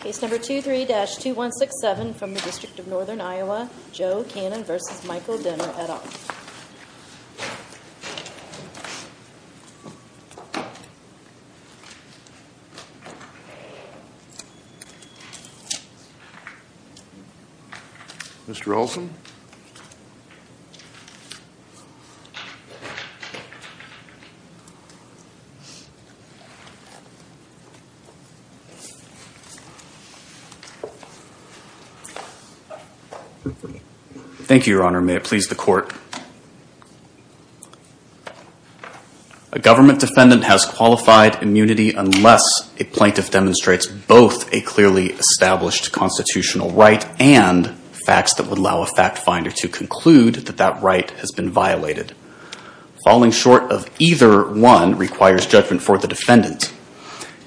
Case number 23-2167 from the District of Northern Iowa, Joe Cannon v. Michael Dehner et al. Thank you, your honor. May it please the court. A government defendant has qualified immunity unless a plaintiff demonstrates both a clearly established constitutional right and facts that would allow a fact finder to conclude that that right has been violated. Falling short of either one requires judgment for the defendant.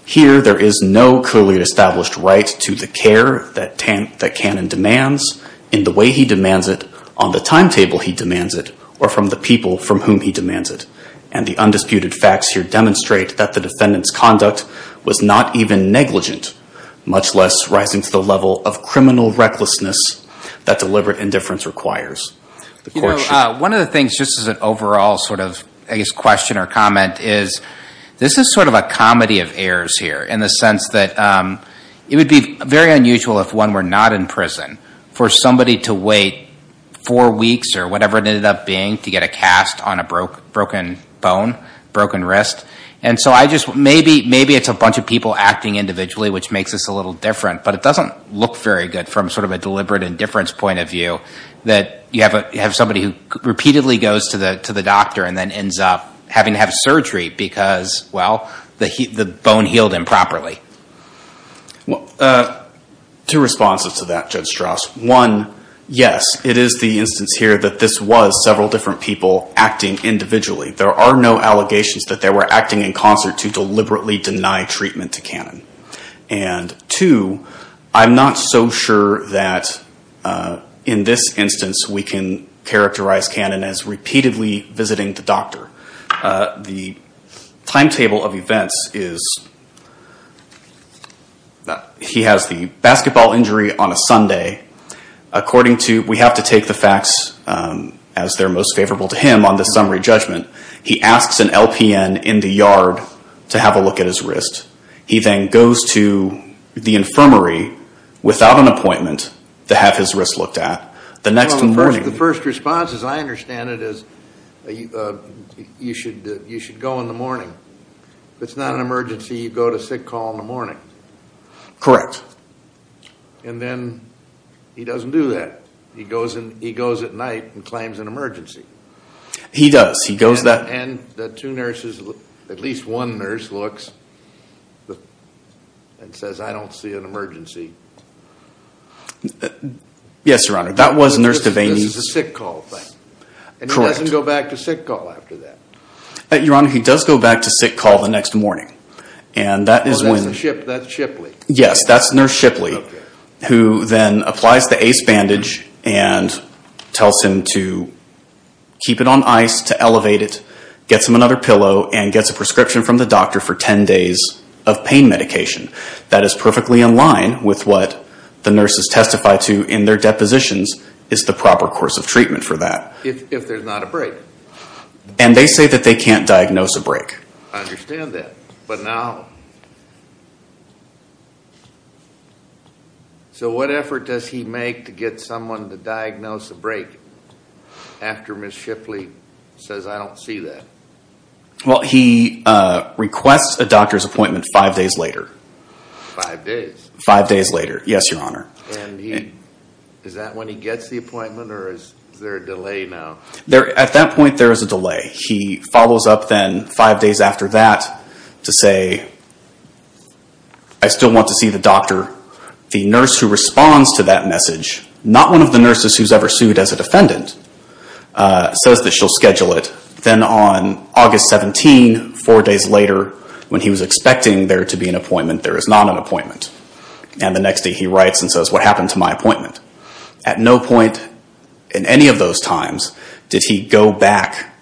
Here, there is no clearly established right to the care that Cannon demands, in the way he demands it, on the timetable he demands it, or from the people from whom he demands it. And the undisputed facts here demonstrate that the defendant's conduct was not even negligent, much less rising to the level of criminal recklessness that deliberate indifference requires. One of the things, just as an overall sort of, I guess, question or comment is, this is sort of a comedy of errors here, in the sense that it would be very unusual if one were not in prison for somebody to wait four weeks or whatever it ended up being to get a cast on a broken bone, broken wrist. And so I just, maybe it's a bunch of people acting individually, which makes this a little different, but it doesn't look very good from sort of a deliberate indifference point of view, that you have somebody who repeatedly goes to the doctor and then ends up having to have surgery because, well, the bone healed improperly. Two responses to that, Judge Strauss. One, yes, it is the instance here that this was several different people acting individually. There are no allegations that they were acting in concert to deliberately deny treatment to Cannon. And two, I'm not so sure that in this instance we can characterize Cannon as repeatedly visiting the doctor. The timetable of events is, he has the basketball injury on a Sunday. According to, we have to take the facts as they're most favorable to him on this summary judgment, he asks an LPN in the yard to have a look at his wrist. He then goes to the infirmary without an appointment to have his wrist looked at. The first response, as I understand it, is you should go in the morning. If it's not an emergency, you go to sick call in the morning. Correct. And then he doesn't do that. He goes at night and claims an emergency. He does. And the two nurses, at least one nurse looks and says, I don't see an emergency. Yes, Your Honor. That was Nurse Devaney. This is a sick call thing. Correct. And he doesn't go back to sick call after that. Your Honor, he does go back to sick call the next morning. That's Shipley. Yes, that's Nurse Shipley, who then applies the ACE bandage and tells him to keep it on ice, to elevate it, gets him another pillow, and gets a prescription from the doctor for ten days of pain medication. That is perfectly in line with what the nurses testify to in their depositions is the proper course of treatment for that. If there's not a break. And they say that they can't diagnose a break. I understand that. But now, so what effort does he make to get someone to diagnose a break after Miss Shipley says, I don't see that? Well, he requests a doctor's appointment five days later. Five days later. Yes, Your Honor. And is that when he gets the appointment or is there a delay now? At that point, there is a delay. He follows up then five days after that to say, I still want to see the doctor. The nurse who responds to that message, not one of the nurses who's ever sued as a defendant, says that she'll schedule it. Then on August 17, four days later, when he was expecting there to be an appointment, there is not an appointment. And the next day he writes and says, what happened to my appointment? At no point in any of those times did he go back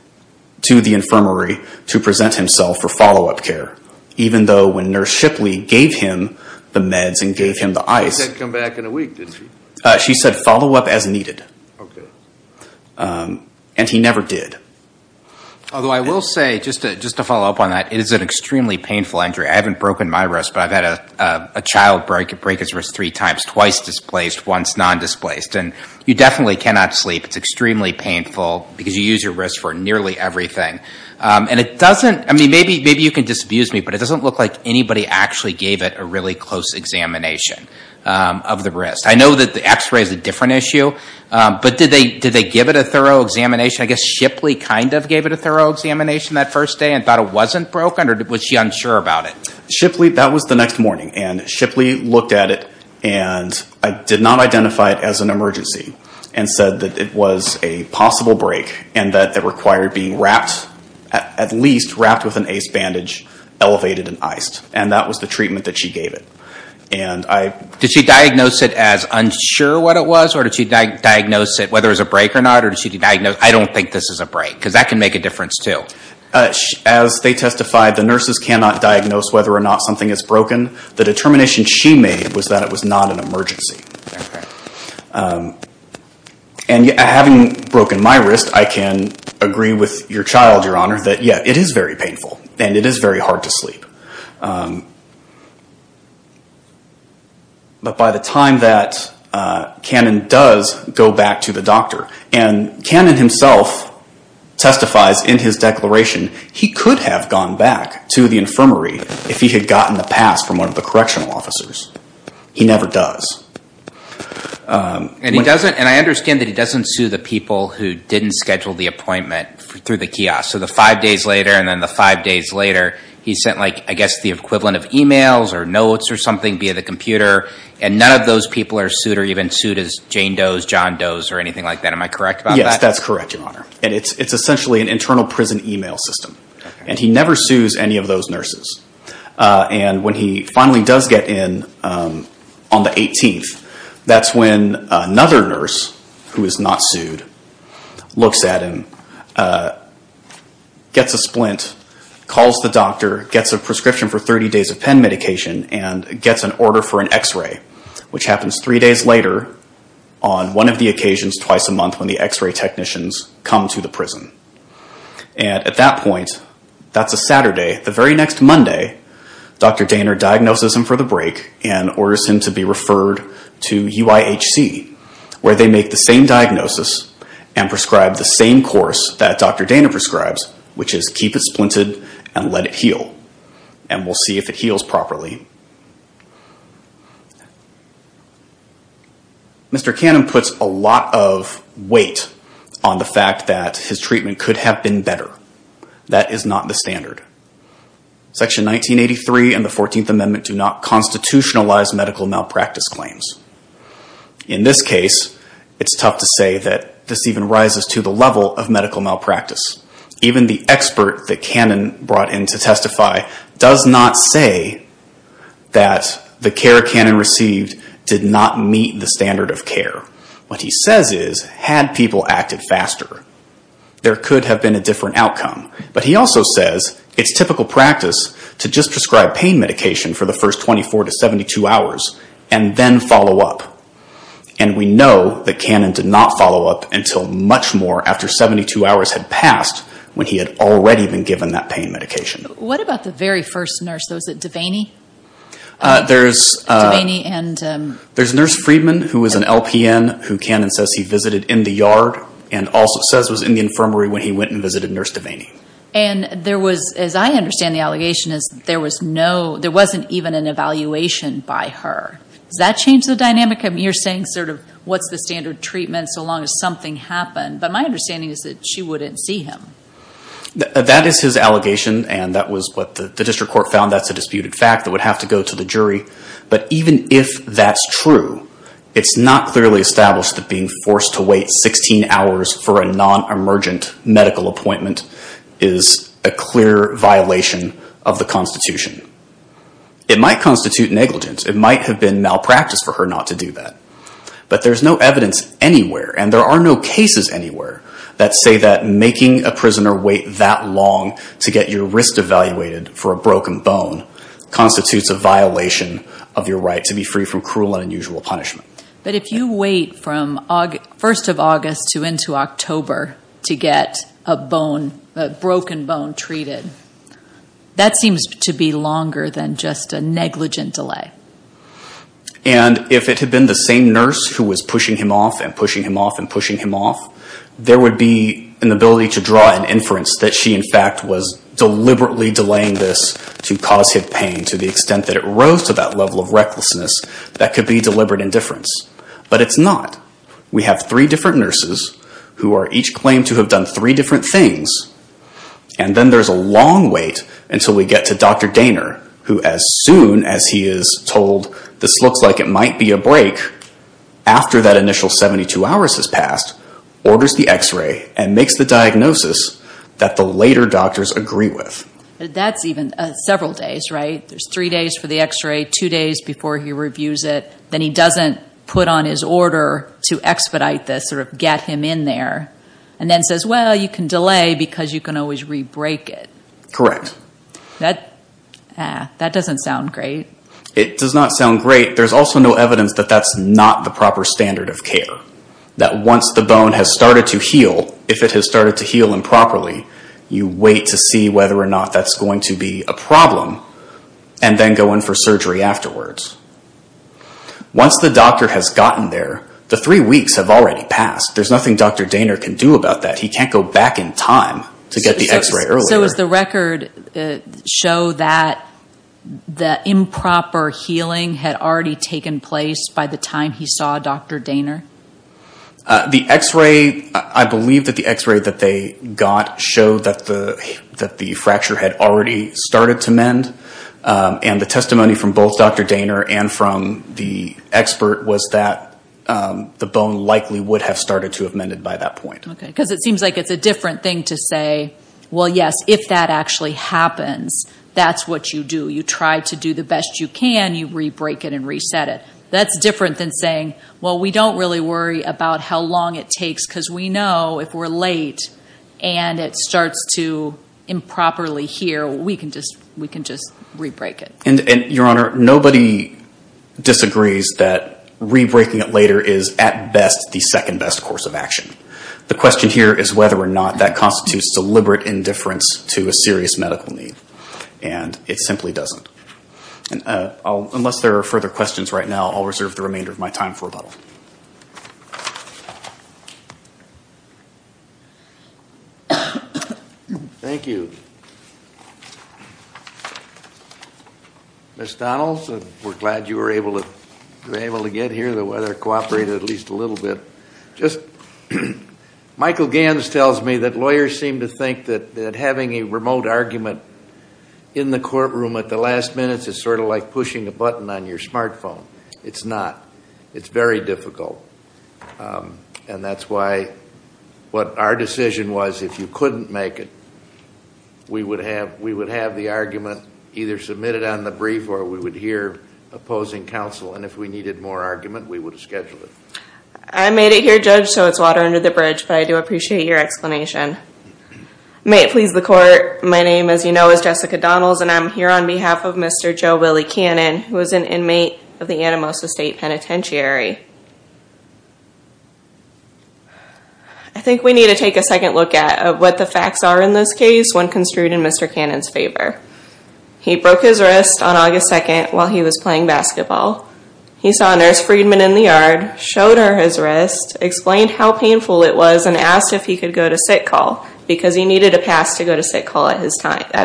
to the infirmary to present himself for follow-up care. Even though when Nurse Shipley gave him the meds and gave him the ice. She said come back in a week, didn't she? She said follow up as needed. Okay. And he never did. Although I will say, just to follow up on that, it is an extremely painful injury. I haven't broken my wrist, but I've had a child break his wrist three times. Twice displaced, once non-displaced. And you definitely cannot sleep. It's extremely painful because you use your wrist for nearly everything. And it doesn't, I mean, maybe you can disabuse me, but it doesn't look like anybody actually gave it a really close examination of the wrist. I know that the x-ray is a different issue. But did they give it a thorough examination? I guess Shipley kind of gave it a thorough examination that first day and thought it wasn't broken? Or was she unsure about it? Shipley, that was the next morning. And Shipley looked at it and did not identify it as an emergency. And said that it was a possible break. And that it required being wrapped, at least wrapped with an ACE bandage, elevated and iced. And that was the treatment that she gave it. Did she diagnose it as unsure what it was? Or did she diagnose it whether it was a break or not? Or did she diagnose, I don't think this is a break. Because that can make a difference too. As they testified, the nurses cannot diagnose whether or not something is broken. The determination she made was that it was not an emergency. And having broken my wrist, I can agree with your child, Your Honor, that yeah, it is very painful. And it is very hard to sleep. But by the time that Cannon does go back to the doctor, and Cannon himself testifies in his declaration, he could have gone back to the infirmary if he had gotten the pass from one of the correctional officers. He never does. And I understand that he doesn't sue the people who didn't schedule the appointment through the kiosk. So the five days later, and then the five days later, he sent, I guess, the equivalent of emails or notes or something via the computer. And none of those people are sued or even sued as Jane Does, John Does, or anything like that. Am I correct about that? Yes, that's correct, Your Honor. And it's essentially an internal prison email system. And he never sues any of those nurses. And when he finally does get in on the 18th, that's when another nurse, who is not sued, looks at him, gets a splint, calls the doctor, gets a prescription for 30 days of pen medication, and gets an order for an x-ray, which happens three days later on one of the occasions twice a month when the x-ray technicians come to the prison. And at that point, that's a Saturday. The very next Monday, Dr. Daner diagnoses him for the break and orders him to be referred to UIHC, where they make the same diagnosis and prescribe the same course that Dr. Daner prescribes, which is keep it splinted and let it heal. And we'll see if it heals properly. Mr. Cannon puts a lot of weight on the fact that his treatment could have been better. That is not the standard. Section 1983 and the 14th Amendment do not constitutionalize medical malpractice claims. In this case, it's tough to say that this even rises to the level of medical malpractice. Even the expert that Cannon brought in to testify does not say that the care Cannon received did not meet the standard of care. What he says is, had people acted faster, there could have been a different outcome. But he also says it's typical practice to just prescribe pain medication for the first 24 to 72 hours and then follow up. And we know that Cannon did not follow up until much more after 72 hours had passed when he had already been given that pain medication. What about the very first nurse? Was it Devaney? There's Nurse Friedman, who was an LPN, who Cannon says he visited in the yard and also says was in the infirmary when he went and visited Nurse Devaney. And there was, as I understand the allegation, there wasn't even an evaluation by her. Does that change the dynamic? You're saying sort of, what's the standard treatment so long as something happened? But my understanding is that she wouldn't see him. That is his allegation, and that was what the district court found. That's a disputed fact that would have to go to the jury. But even if that's true, it's not clearly established that being forced to wait 16 hours for a non-emergent medical appointment is a clear violation of the Constitution. It might constitute negligence. It might have been malpractice for her not to do that. But there's no evidence anywhere, and there are no cases anywhere, that say that making a prisoner wait that long to get your wrist evaluated for a broken bone constitutes a violation of your right to be free from cruel and unusual punishment. But if you wait from 1st of August to into October to get a broken bone treated, that seems to be longer than just a negligent delay. And if it had been the same nurse who was pushing him off and pushing him off and pushing him off, there would be an ability to draw an inference that she in fact was deliberately delaying this to cause him pain to the extent that it rose to that level of recklessness. That could be deliberate indifference. But it's not. We have three different nurses who each claim to have done three different things, and then there's a long wait until we get to Dr. Daynor, who as soon as he is told this looks like it might be a break after that initial 72 hours has passed, orders the X-ray and makes the diagnosis that the later doctors agree with. That's even several days, right? There's three days for the X-ray, two days before he reviews it, then he doesn't put on his order to expedite this, sort of get him in there, and then says, well, you can delay because you can always re-break it. Correct. That doesn't sound great. It does not sound great. There's also no evidence that that's not the proper standard of care, that once the bone has started to heal, if it has started to heal improperly, you wait to see whether or not that's going to be a problem and then go in for surgery afterwards. Once the doctor has gotten there, the three weeks have already passed. There's nothing Dr. Daynor can do about that. He can't go back in time to get the X-ray earlier. So does the record show that the improper healing had already taken place by the time he saw Dr. Daynor? The X-ray, I believe that the X-ray that they got showed that the fracture had already started to mend, and the testimony from both Dr. Daynor and from the expert was that the bone likely would have started to have mended by that point. Because it seems like it's a different thing to say, well, yes, if that actually happens, that's what you do. You try to do the best you can. You re-break it and reset it. That's different than saying, well, we don't really worry about how long it takes because we know if we're late and it starts to improperly heal, we can just re-break it. And, Your Honor, nobody disagrees that re-breaking it later is, at best, the second best course of action. The question here is whether or not that constitutes deliberate indifference to a serious medical need, and it simply doesn't. Unless there are further questions right now, I'll reserve the remainder of my time for rebuttal. Thank you. Ms. Donalds, we're glad you were able to get here. The weather cooperated at least a little bit. Michael Ganz tells me that lawyers seem to think that having a remote argument in the courtroom at the last minutes is sort of like pushing a button on your smartphone. It's not. It's very difficult. And that's why what our decision was, if you couldn't make it, we would have the argument either submitted on the brief or we would hear opposing counsel, and if we needed more argument, we would schedule it. I made it here judged, so it's water under the bridge, but I do appreciate your explanation. May it please the Court, my name, as you know, is Jessica Donalds, and I'm here on behalf of Mr. Joe Willey Cannon, who is an inmate of the Anamosa State Penitentiary. I think we need to take a second look at what the facts are in this case when construed in Mr. Cannon's favor. He broke his wrist on August 2nd while he was playing basketball. He saw Nurse Friedman in the yard, showed her his wrist, explained how painful it was, and asked if he could go to sick call because he needed a pass to go to sick call at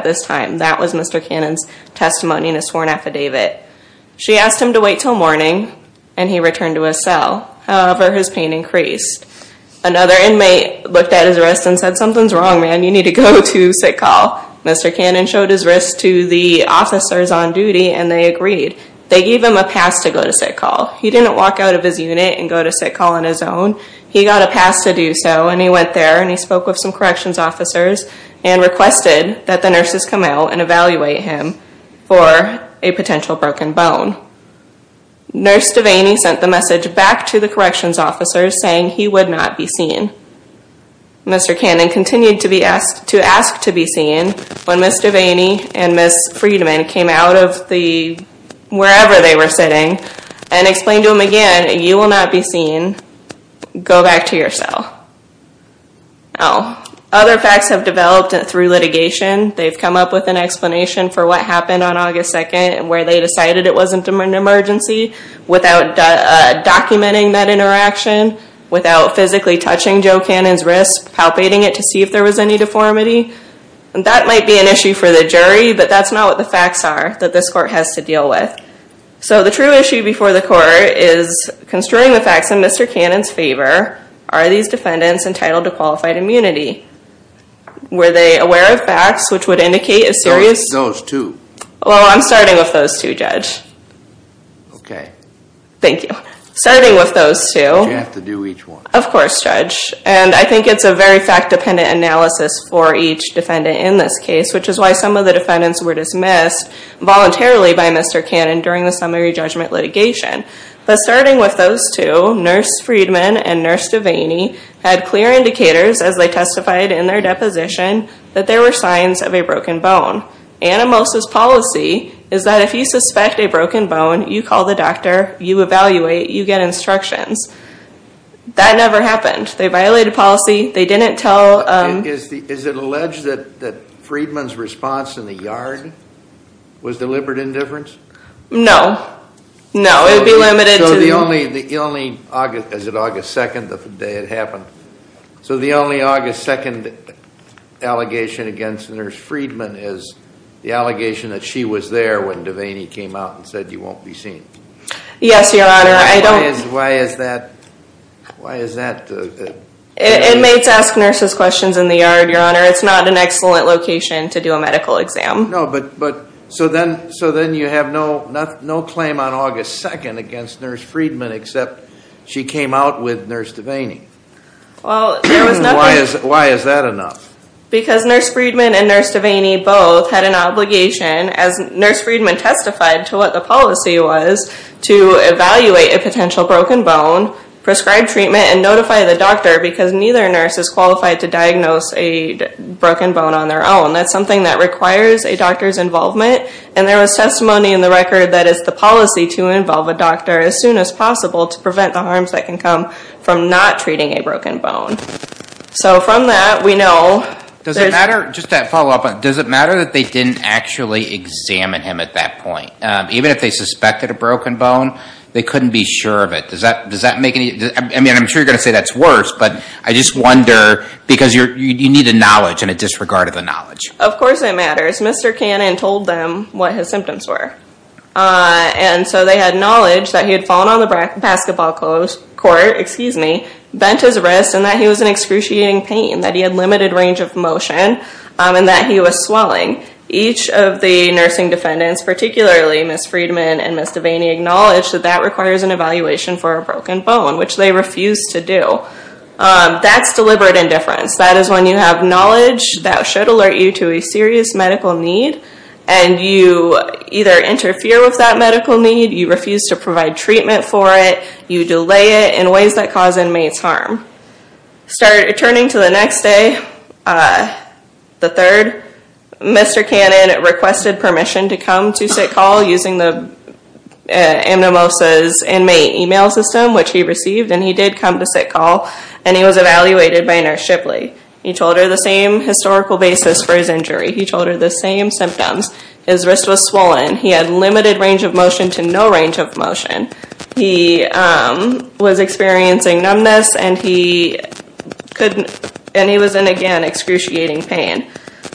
this time. That was Mr. Cannon's testimony in a sworn affidavit. She asked him to wait until morning, and he returned to his cell. However, his pain increased. Another inmate looked at his wrist and said, something's wrong, man, you need to go to sick call. Mr. Cannon showed his wrist to the officers on duty, and they agreed. They gave him a pass to go to sick call. He didn't walk out of his unit and go to sick call on his own. He got a pass to do so, and he went there, and he spoke with some corrections officers and requested that the nurses come out and evaluate him for a potential broken bone. Nurse Devaney sent the message back to the corrections officers saying he would not be seen. Mr. Cannon continued to ask to be seen. When Ms. Devaney and Ms. Friedman came out of wherever they were sitting and explained to him again, you will not be seen. Go back to your cell. Other facts have developed through litigation. They've come up with an explanation for what happened on August 2nd where they decided it wasn't an emergency without documenting that interaction, without physically touching Joe Cannon's wrist, palpating it to see if there was any deformity. That might be an issue for the jury, but that's not what the facts are that this court has to deal with. So the true issue before the court is construing the facts in Mr. Cannon's favor. Are these defendants entitled to qualified immunity? Were they aware of facts which would indicate a serious... Those two. Well, I'm starting with those two, Judge. Okay. Thank you. Starting with those two... But you have to do each one. Of course, Judge. And I think it's a very fact-dependent analysis for each defendant in this case, which is why some of the defendants were dismissed voluntarily by Mr. Cannon during the summary judgment litigation. But starting with those two, Nurse Friedman and Nurse Devaney had clear indicators as they testified in their deposition that there were signs of a broken bone. Animosis policy is that if you suspect a broken bone, you call the doctor, you evaluate, you get instructions. That never happened. They violated policy. They didn't tell... Is it alleged that Friedman's response in the yard was deliberate indifference? No. No, it would be limited to... So the only... Is it August 2nd, the day it happened? So the only August 2nd allegation against Nurse Friedman is the allegation that she was there when Devaney came out and said you won't be seen. Yes, Your Honor. I don't... Why is that? Why is that? Inmates ask nurses questions in the yard, Your Honor. It's not an excellent location to do a medical exam. No, but... So then you have no claim on August 2nd against Nurse Friedman except she came out with Nurse Devaney. Why is that enough? Because Nurse Friedman and Nurse Devaney both had an obligation, as Nurse Friedman testified to what the policy was, to evaluate a potential broken bone, prescribe treatment, and notify the doctor because neither nurse is qualified to diagnose a broken bone on their own. That's something that requires a doctor's involvement, and there was testimony in the record that it's the policy to involve a doctor as soon as possible to prevent the harms that can come from not treating a broken bone. So from that, we know... Does it matter, just to follow up, does it matter that they didn't actually examine him at that point? Even if they suspected a broken bone, they couldn't be sure of it. Does that make any... I mean, I'm sure you're going to say that's worse, but I just wonder because you need a knowledge and a disregard of the knowledge. Of course it matters. Mr. Cannon told them what his symptoms were. And so they had knowledge that he had fallen on the basketball court, bent his wrist, and that he was in excruciating pain, that he had limited range of motion, and that he was swelling. Each of the nursing defendants, particularly Ms. Friedman and Ms. Devaney, acknowledged that that requires an evaluation for a broken bone, which they refused to do. That's deliberate indifference. That is when you have knowledge that should alert you to a serious medical need, and you either interfere with that medical need, you refuse to provide treatment for it, you delay it in ways that cause inmates harm. Turning to the next day, the third, Mr. Cannon requested permission to come to sick call using the amnimosis inmate email system, which he received, and he did come to sick call, and he was evaluated by Nurse Shipley. He told her the same historical basis for his injury. He told her the same symptoms. His wrist was swollen. He had limited range of motion to no range of motion. He was experiencing numbness, and he was in, again, excruciating pain.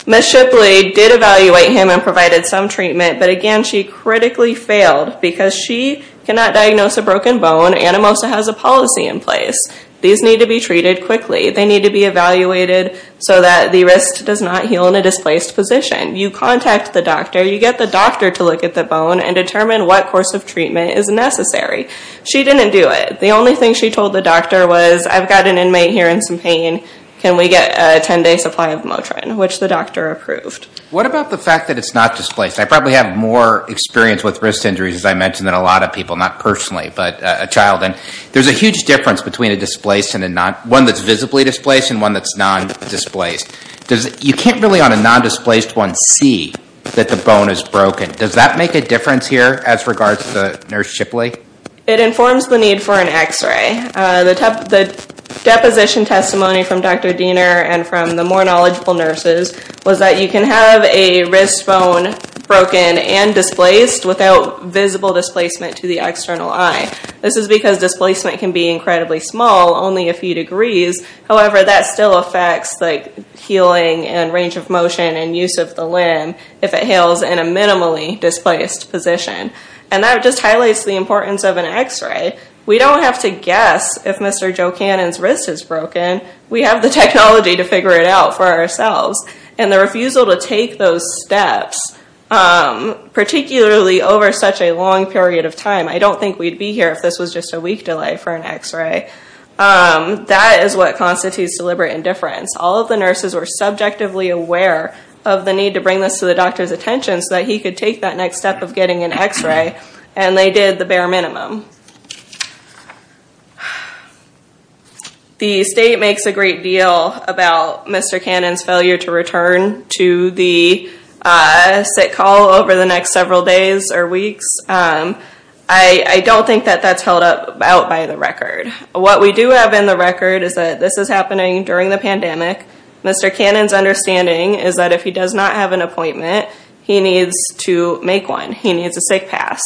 Ms. Shipley did evaluate him and provided some treatment, but again, she critically failed because she cannot diagnose a broken bone. Anamosa has a policy in place. These need to be treated quickly. They need to be evaluated so that the wrist does not heal in a displaced position. You contact the doctor. You get the doctor to look at the bone and determine what course of treatment is necessary. She didn't do it. The only thing she told the doctor was, I've got an inmate here in some pain. Can we get a 10-day supply of Motrin, which the doctor approved. What about the fact that it's not displaced? I probably have more experience with wrist injuries, as I mentioned, than a lot of people, not personally, but a child. There's a huge difference between one that's visibly displaced and one that's non-displaced. You can't really, on a non-displaced one, see that the bone is broken. Does that make a difference here as regards to Nurse Shipley? It informs the need for an x-ray. The deposition testimony from Dr. Diener and from the more knowledgeable nurses was that you can have a wrist bone broken and displaced without visible displacement to the external eye. This is because displacement can be incredibly small, only a few degrees. However, that still affects healing and range of motion and use of the limb if it heals in a minimally displaced position. That just highlights the importance of an x-ray. We don't have to guess if Mr. Joe Cannon's wrist is broken. We have the technology to figure it out for ourselves. The refusal to take those steps, particularly over such a long period of time, I don't think we'd be here if this was just a week delay for an x-ray. That is what constitutes deliberate indifference. All of the nurses were subjectively aware of the need to bring this to the doctor's attention so that he could take that next step of getting an x-ray, and they did the bare minimum. The state makes a great deal about Mr. Cannon's failure to return to the SIT call over the next several days or weeks. I don't think that that's held out by the record. What we do have in the record is that this is happening during the pandemic. Mr. Cannon's understanding is that if he does not have an appointment, he needs to make one. He needs a SIT pass.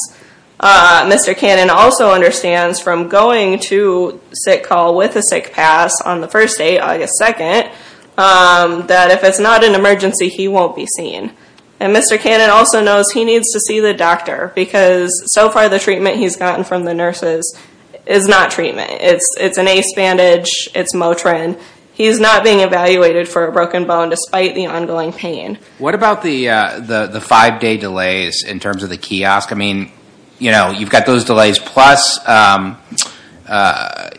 Mr. Cannon also understands from going to SIT call with a SIT pass on the first day, August 2nd, that if it's not an emergency, he won't be seen. And Mr. Cannon also knows he needs to see the doctor because so far the treatment he's gotten from the nurses is not treatment. It's an ACE bandage. It's Motrin. He's not being evaluated for a broken bone despite the ongoing pain. What about the five-day delays in terms of the kiosk? I mean, you've got those delays, plus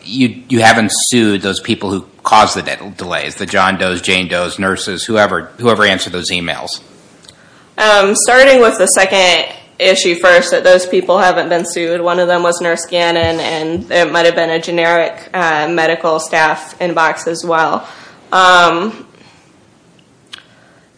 you haven't sued those people who caused the delays, the John Does, Jane Does, nurses, whoever answered those emails. Starting with the second issue first, that those people haven't been sued. One of them was Nurse Cannon, and it might have been a generic medical staff inbox as well.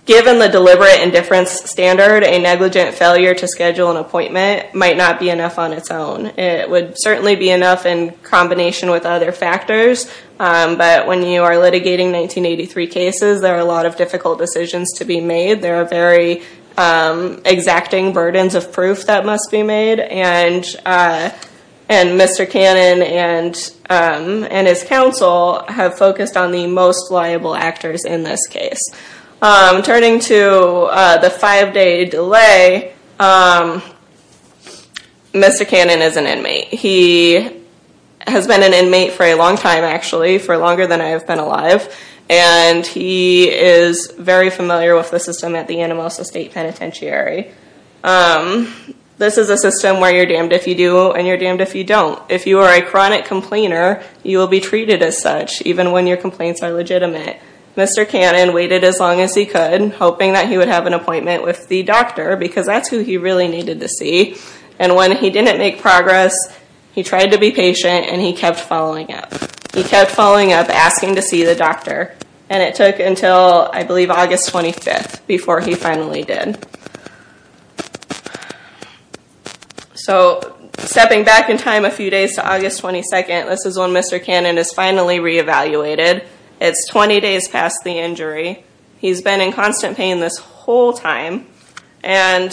Given the deliberate indifference standard, a negligent failure to schedule an appointment might not be enough on its own. It would certainly be enough in combination with other factors. But when you are litigating 1983 cases, there are a lot of difficult decisions to be made. There are very exacting burdens of proof that must be made. And Mr. Cannon and his counsel have focused on the most liable actors in this case. Turning to the five-day delay, Mr. Cannon is an inmate. He has been an inmate for a long time, actually, for longer than I have been alive. And he is very familiar with the system at the Anamosa State Penitentiary. This is a system where you're damned if you do, and you're damned if you don't. If you are a chronic complainer, you will be treated as such, even when your complaints are legitimate. Mr. Cannon waited as long as he could, hoping that he would have an appointment with the doctor, because that's who he really needed to see. And when he didn't make progress, he tried to be patient, and he kept following up. He kept following up, asking to see the doctor. And it took until, I believe, August 25th before he finally did. So, stepping back in time a few days to August 22nd, this is when Mr. Cannon is finally re-evaluated. It's 20 days past the injury. He's been in constant pain this whole time. And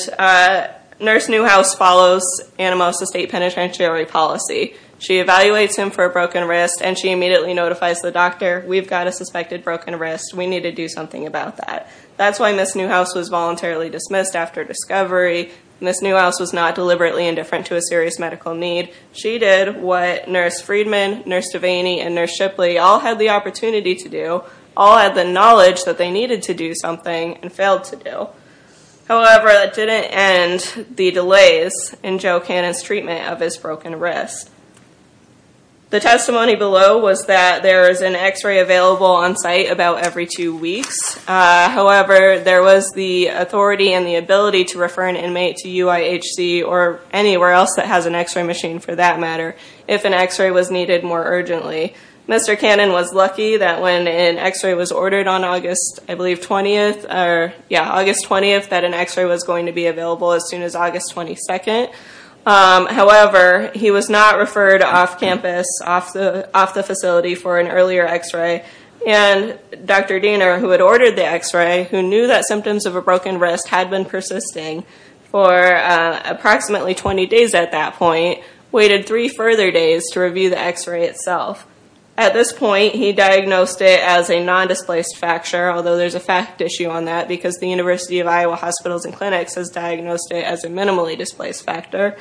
Nurse Newhouse follows Anamosa State Penitentiary policy. She evaluates him for a broken wrist, and she immediately notifies the doctor, we've got a suspected broken wrist, we need to do something about that. That's why Nurse Newhouse was voluntarily dismissed after discovery. Nurse Newhouse was not deliberately indifferent to a serious medical need. She did what Nurse Friedman, Nurse Devaney, and Nurse Shipley all had the opportunity to do, all had the knowledge that they needed to do something, and failed to do. However, that didn't end the delays in Joe Cannon's treatment of his broken wrist. The testimony below was that there is an x-ray available on site about every two weeks. However, there was the authority and the ability to refer an inmate to UIHC, or anywhere else that has an x-ray machine for that matter, if an x-ray was needed more urgently. Mr. Cannon was lucky that when an x-ray was ordered on August, I believe, 20th, or yeah, August 20th, that an x-ray was going to be available as soon as August 22nd. However, he was not referred off campus, off the facility for an earlier x-ray. And Dr. Diener, who had ordered the x-ray, who knew that symptoms of a broken wrist had been persisting for approximately 20 days at that point, waited three further days to review the x-ray itself. At this point, he diagnosed it as a non-displaced fracture, although there's a fact issue on that, because the University of Iowa Hospitals and Clinics has diagnosed it as a minimally displaced factor.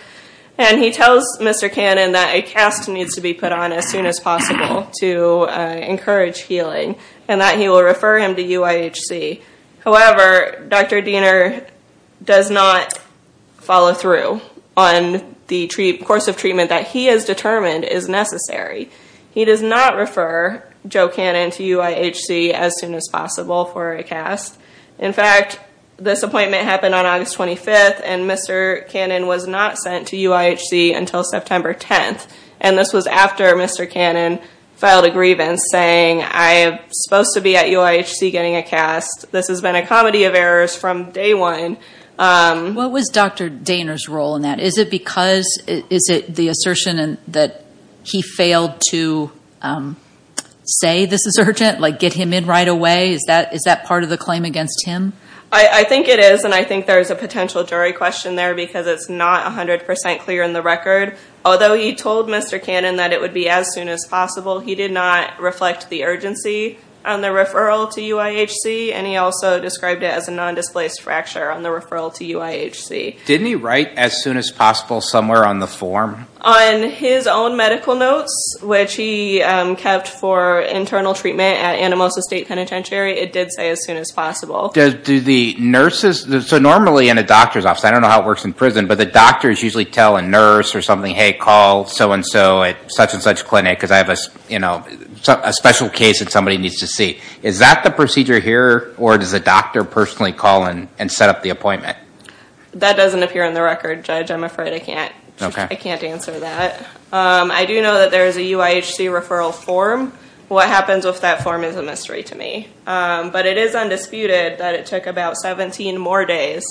And he tells Mr. Cannon that a cast needs to be put on as soon as possible to encourage healing, and that he will refer him to UIHC. However, Dr. Diener does not follow through on the course of treatment that he has determined is necessary. He does not refer Joe Cannon to UIHC as soon as possible for a cast. In fact, this appointment happened on August 25th, and Mr. Cannon was not sent to UIHC until September 10th. And this was after Mr. Cannon filed a grievance saying, I'm supposed to be at UIHC getting a cast. This has been a comedy of errors from day one. What was Dr. Diener's role in that? Is it because, is it the assertion that he failed to say this is urgent, like get him in right away? Is that part of the claim against him? I think it is, and I think there's a potential jury question there because it's not 100% clear in the record. Although he told Mr. Cannon that it would be as soon as possible, he did not reflect the urgency on the referral to UIHC, and he also described it as a non-displaced fracture on the referral to UIHC. Didn't he write as soon as possible somewhere on the form? On his own medical notes, which he kept for internal treatment at Anamosa State Penitentiary, it did say as soon as possible. Do the nurses, so normally in a doctor's office, I don't know how it works in prison, but the doctors usually tell a nurse or something, hey, call so and so at such and such clinic because I have a special case that somebody needs to see. Is that the procedure here, or does the doctor personally call and set up the appointment? That doesn't appear in the record, Judge. I'm afraid I can't answer that. I do know that there is a UIHC referral form. What happens with that form is a mystery to me. But it is undisputed that it took about 17 more days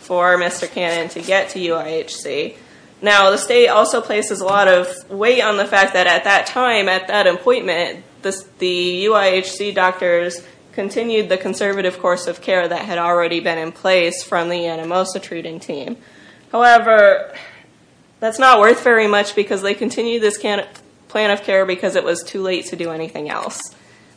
for Mr. Cannon to get to UIHC. Now, the state also places a lot of weight on the fact that at that time, at that appointment, the UIHC doctors continued the conservative course of care that had already been in place from the Anamosa treating team. However, that's not worth very much because they continued this plan of care because it was too late to do anything else.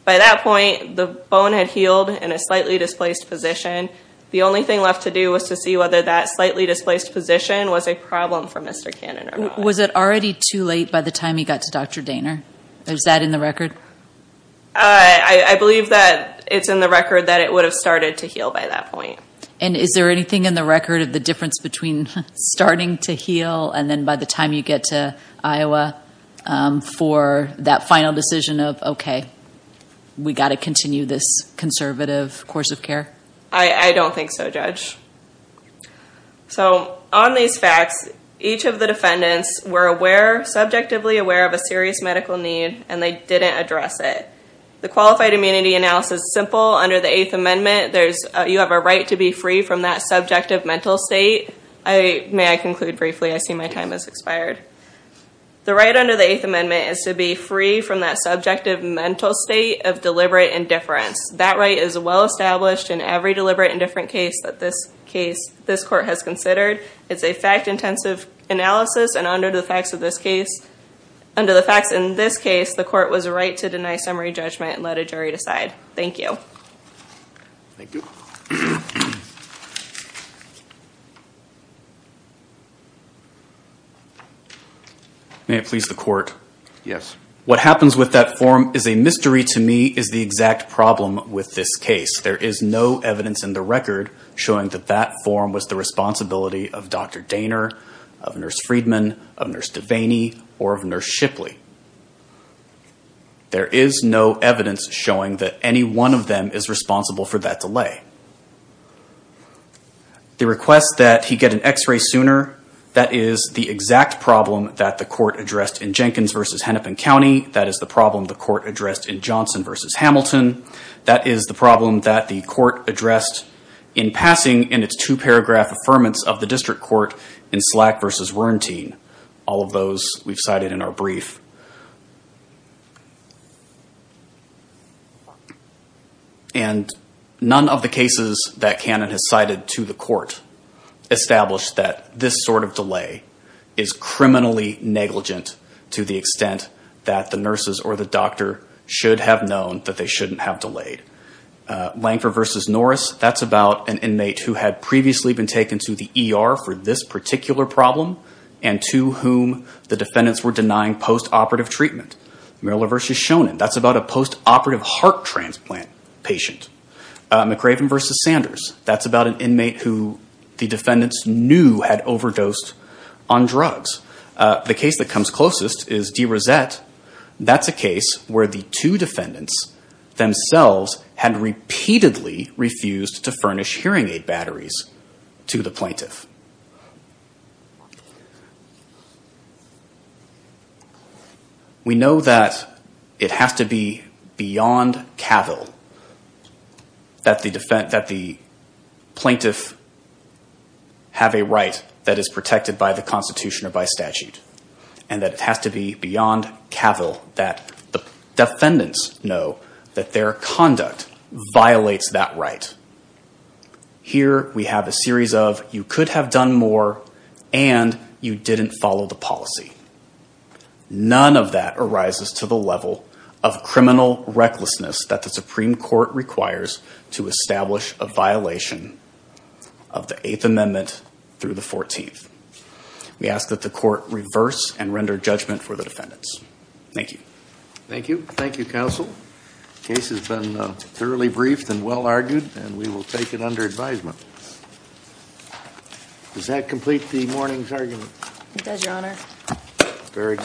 By that point, the bone had healed in a slightly displaced position. The only thing left to do was to see whether that slightly displaced position was a problem for Mr. Cannon or not. Was it already too late by the time he got to Dr. Daner? Is that in the record? I believe that it's in the record that it would have started to heal by that point. And is there anything in the record of the difference between starting to heal and then by the time you get to Iowa for that final decision of, okay, we've got to continue this conservative course of care? I don't think so, Judge. On these facts, each of the defendants were subjectively aware of a serious medical need, and they didn't address it. The qualified immunity analysis is simple. Under the Eighth Amendment, you have a right to be free from that subjective mental state. May I conclude briefly? I see my time has expired. The right under the Eighth Amendment is to be free from that subjective mental state of deliberate indifference. That right is well established in every deliberate indifference case that this court has considered. It's a fact-intensive analysis, and under the facts in this case, the court was right to deny summary judgment and let a jury decide. Thank you. May it please the Court? Yes. What happens with that form is a mystery to me, is the exact problem with this case. There is no evidence in the record showing that that form was the responsibility of Dr. Daner, of Nurse Friedman, of Nurse Devaney, or of Nurse Shipley. None of them is responsible for that delay. The request that he get an x-ray sooner, that is the exact problem that the court addressed in Jenkins v. Hennepin County. That is the problem the court addressed in Johnson v. Hamilton. That is the problem that the court addressed in passing in its two-paragraph affirmance of the district court in Slack v. Werentine. All of those we've cited in our brief. And none of the cases that Cannon has cited to the court established that this sort of delay is criminally negligent to the extent that the nurses or the doctor should have known that they shouldn't have delayed. Lanker v. Norris, that's about an inmate who had previously been taken to the ER for this particular problem and to whom the defendants were denying post-operative treatment. Merler v. Shonin, that's about a post-operative heart transplant patient. McRaven v. Sanders, that's about an inmate who the defendants knew had overdosed on drugs. The case that comes closest is DeRosette. DeRosette, that's a case where the two defendants themselves had repeatedly refused to furnish hearing aid batteries to the plaintiff. We know that it has to be beyond capital that the plaintiff have a right that is protected by the Constitution or by statute and that it has to be beyond capital that the defendants know that their conduct violates that right. Here we have a series of you could have done more and you didn't follow the policy. None of that arises to the level of criminal recklessness that the Supreme Court requires to establish a violation of the Eighth Amendment through the 14th. We ask that the court reverse and render judgment for the defendants. Thank you. Thank you. Thank you, Counsel. The case has been thoroughly briefed and well argued and we will take it under advisement. Does that complete the morning's argument? It does, Your Honor. Very good.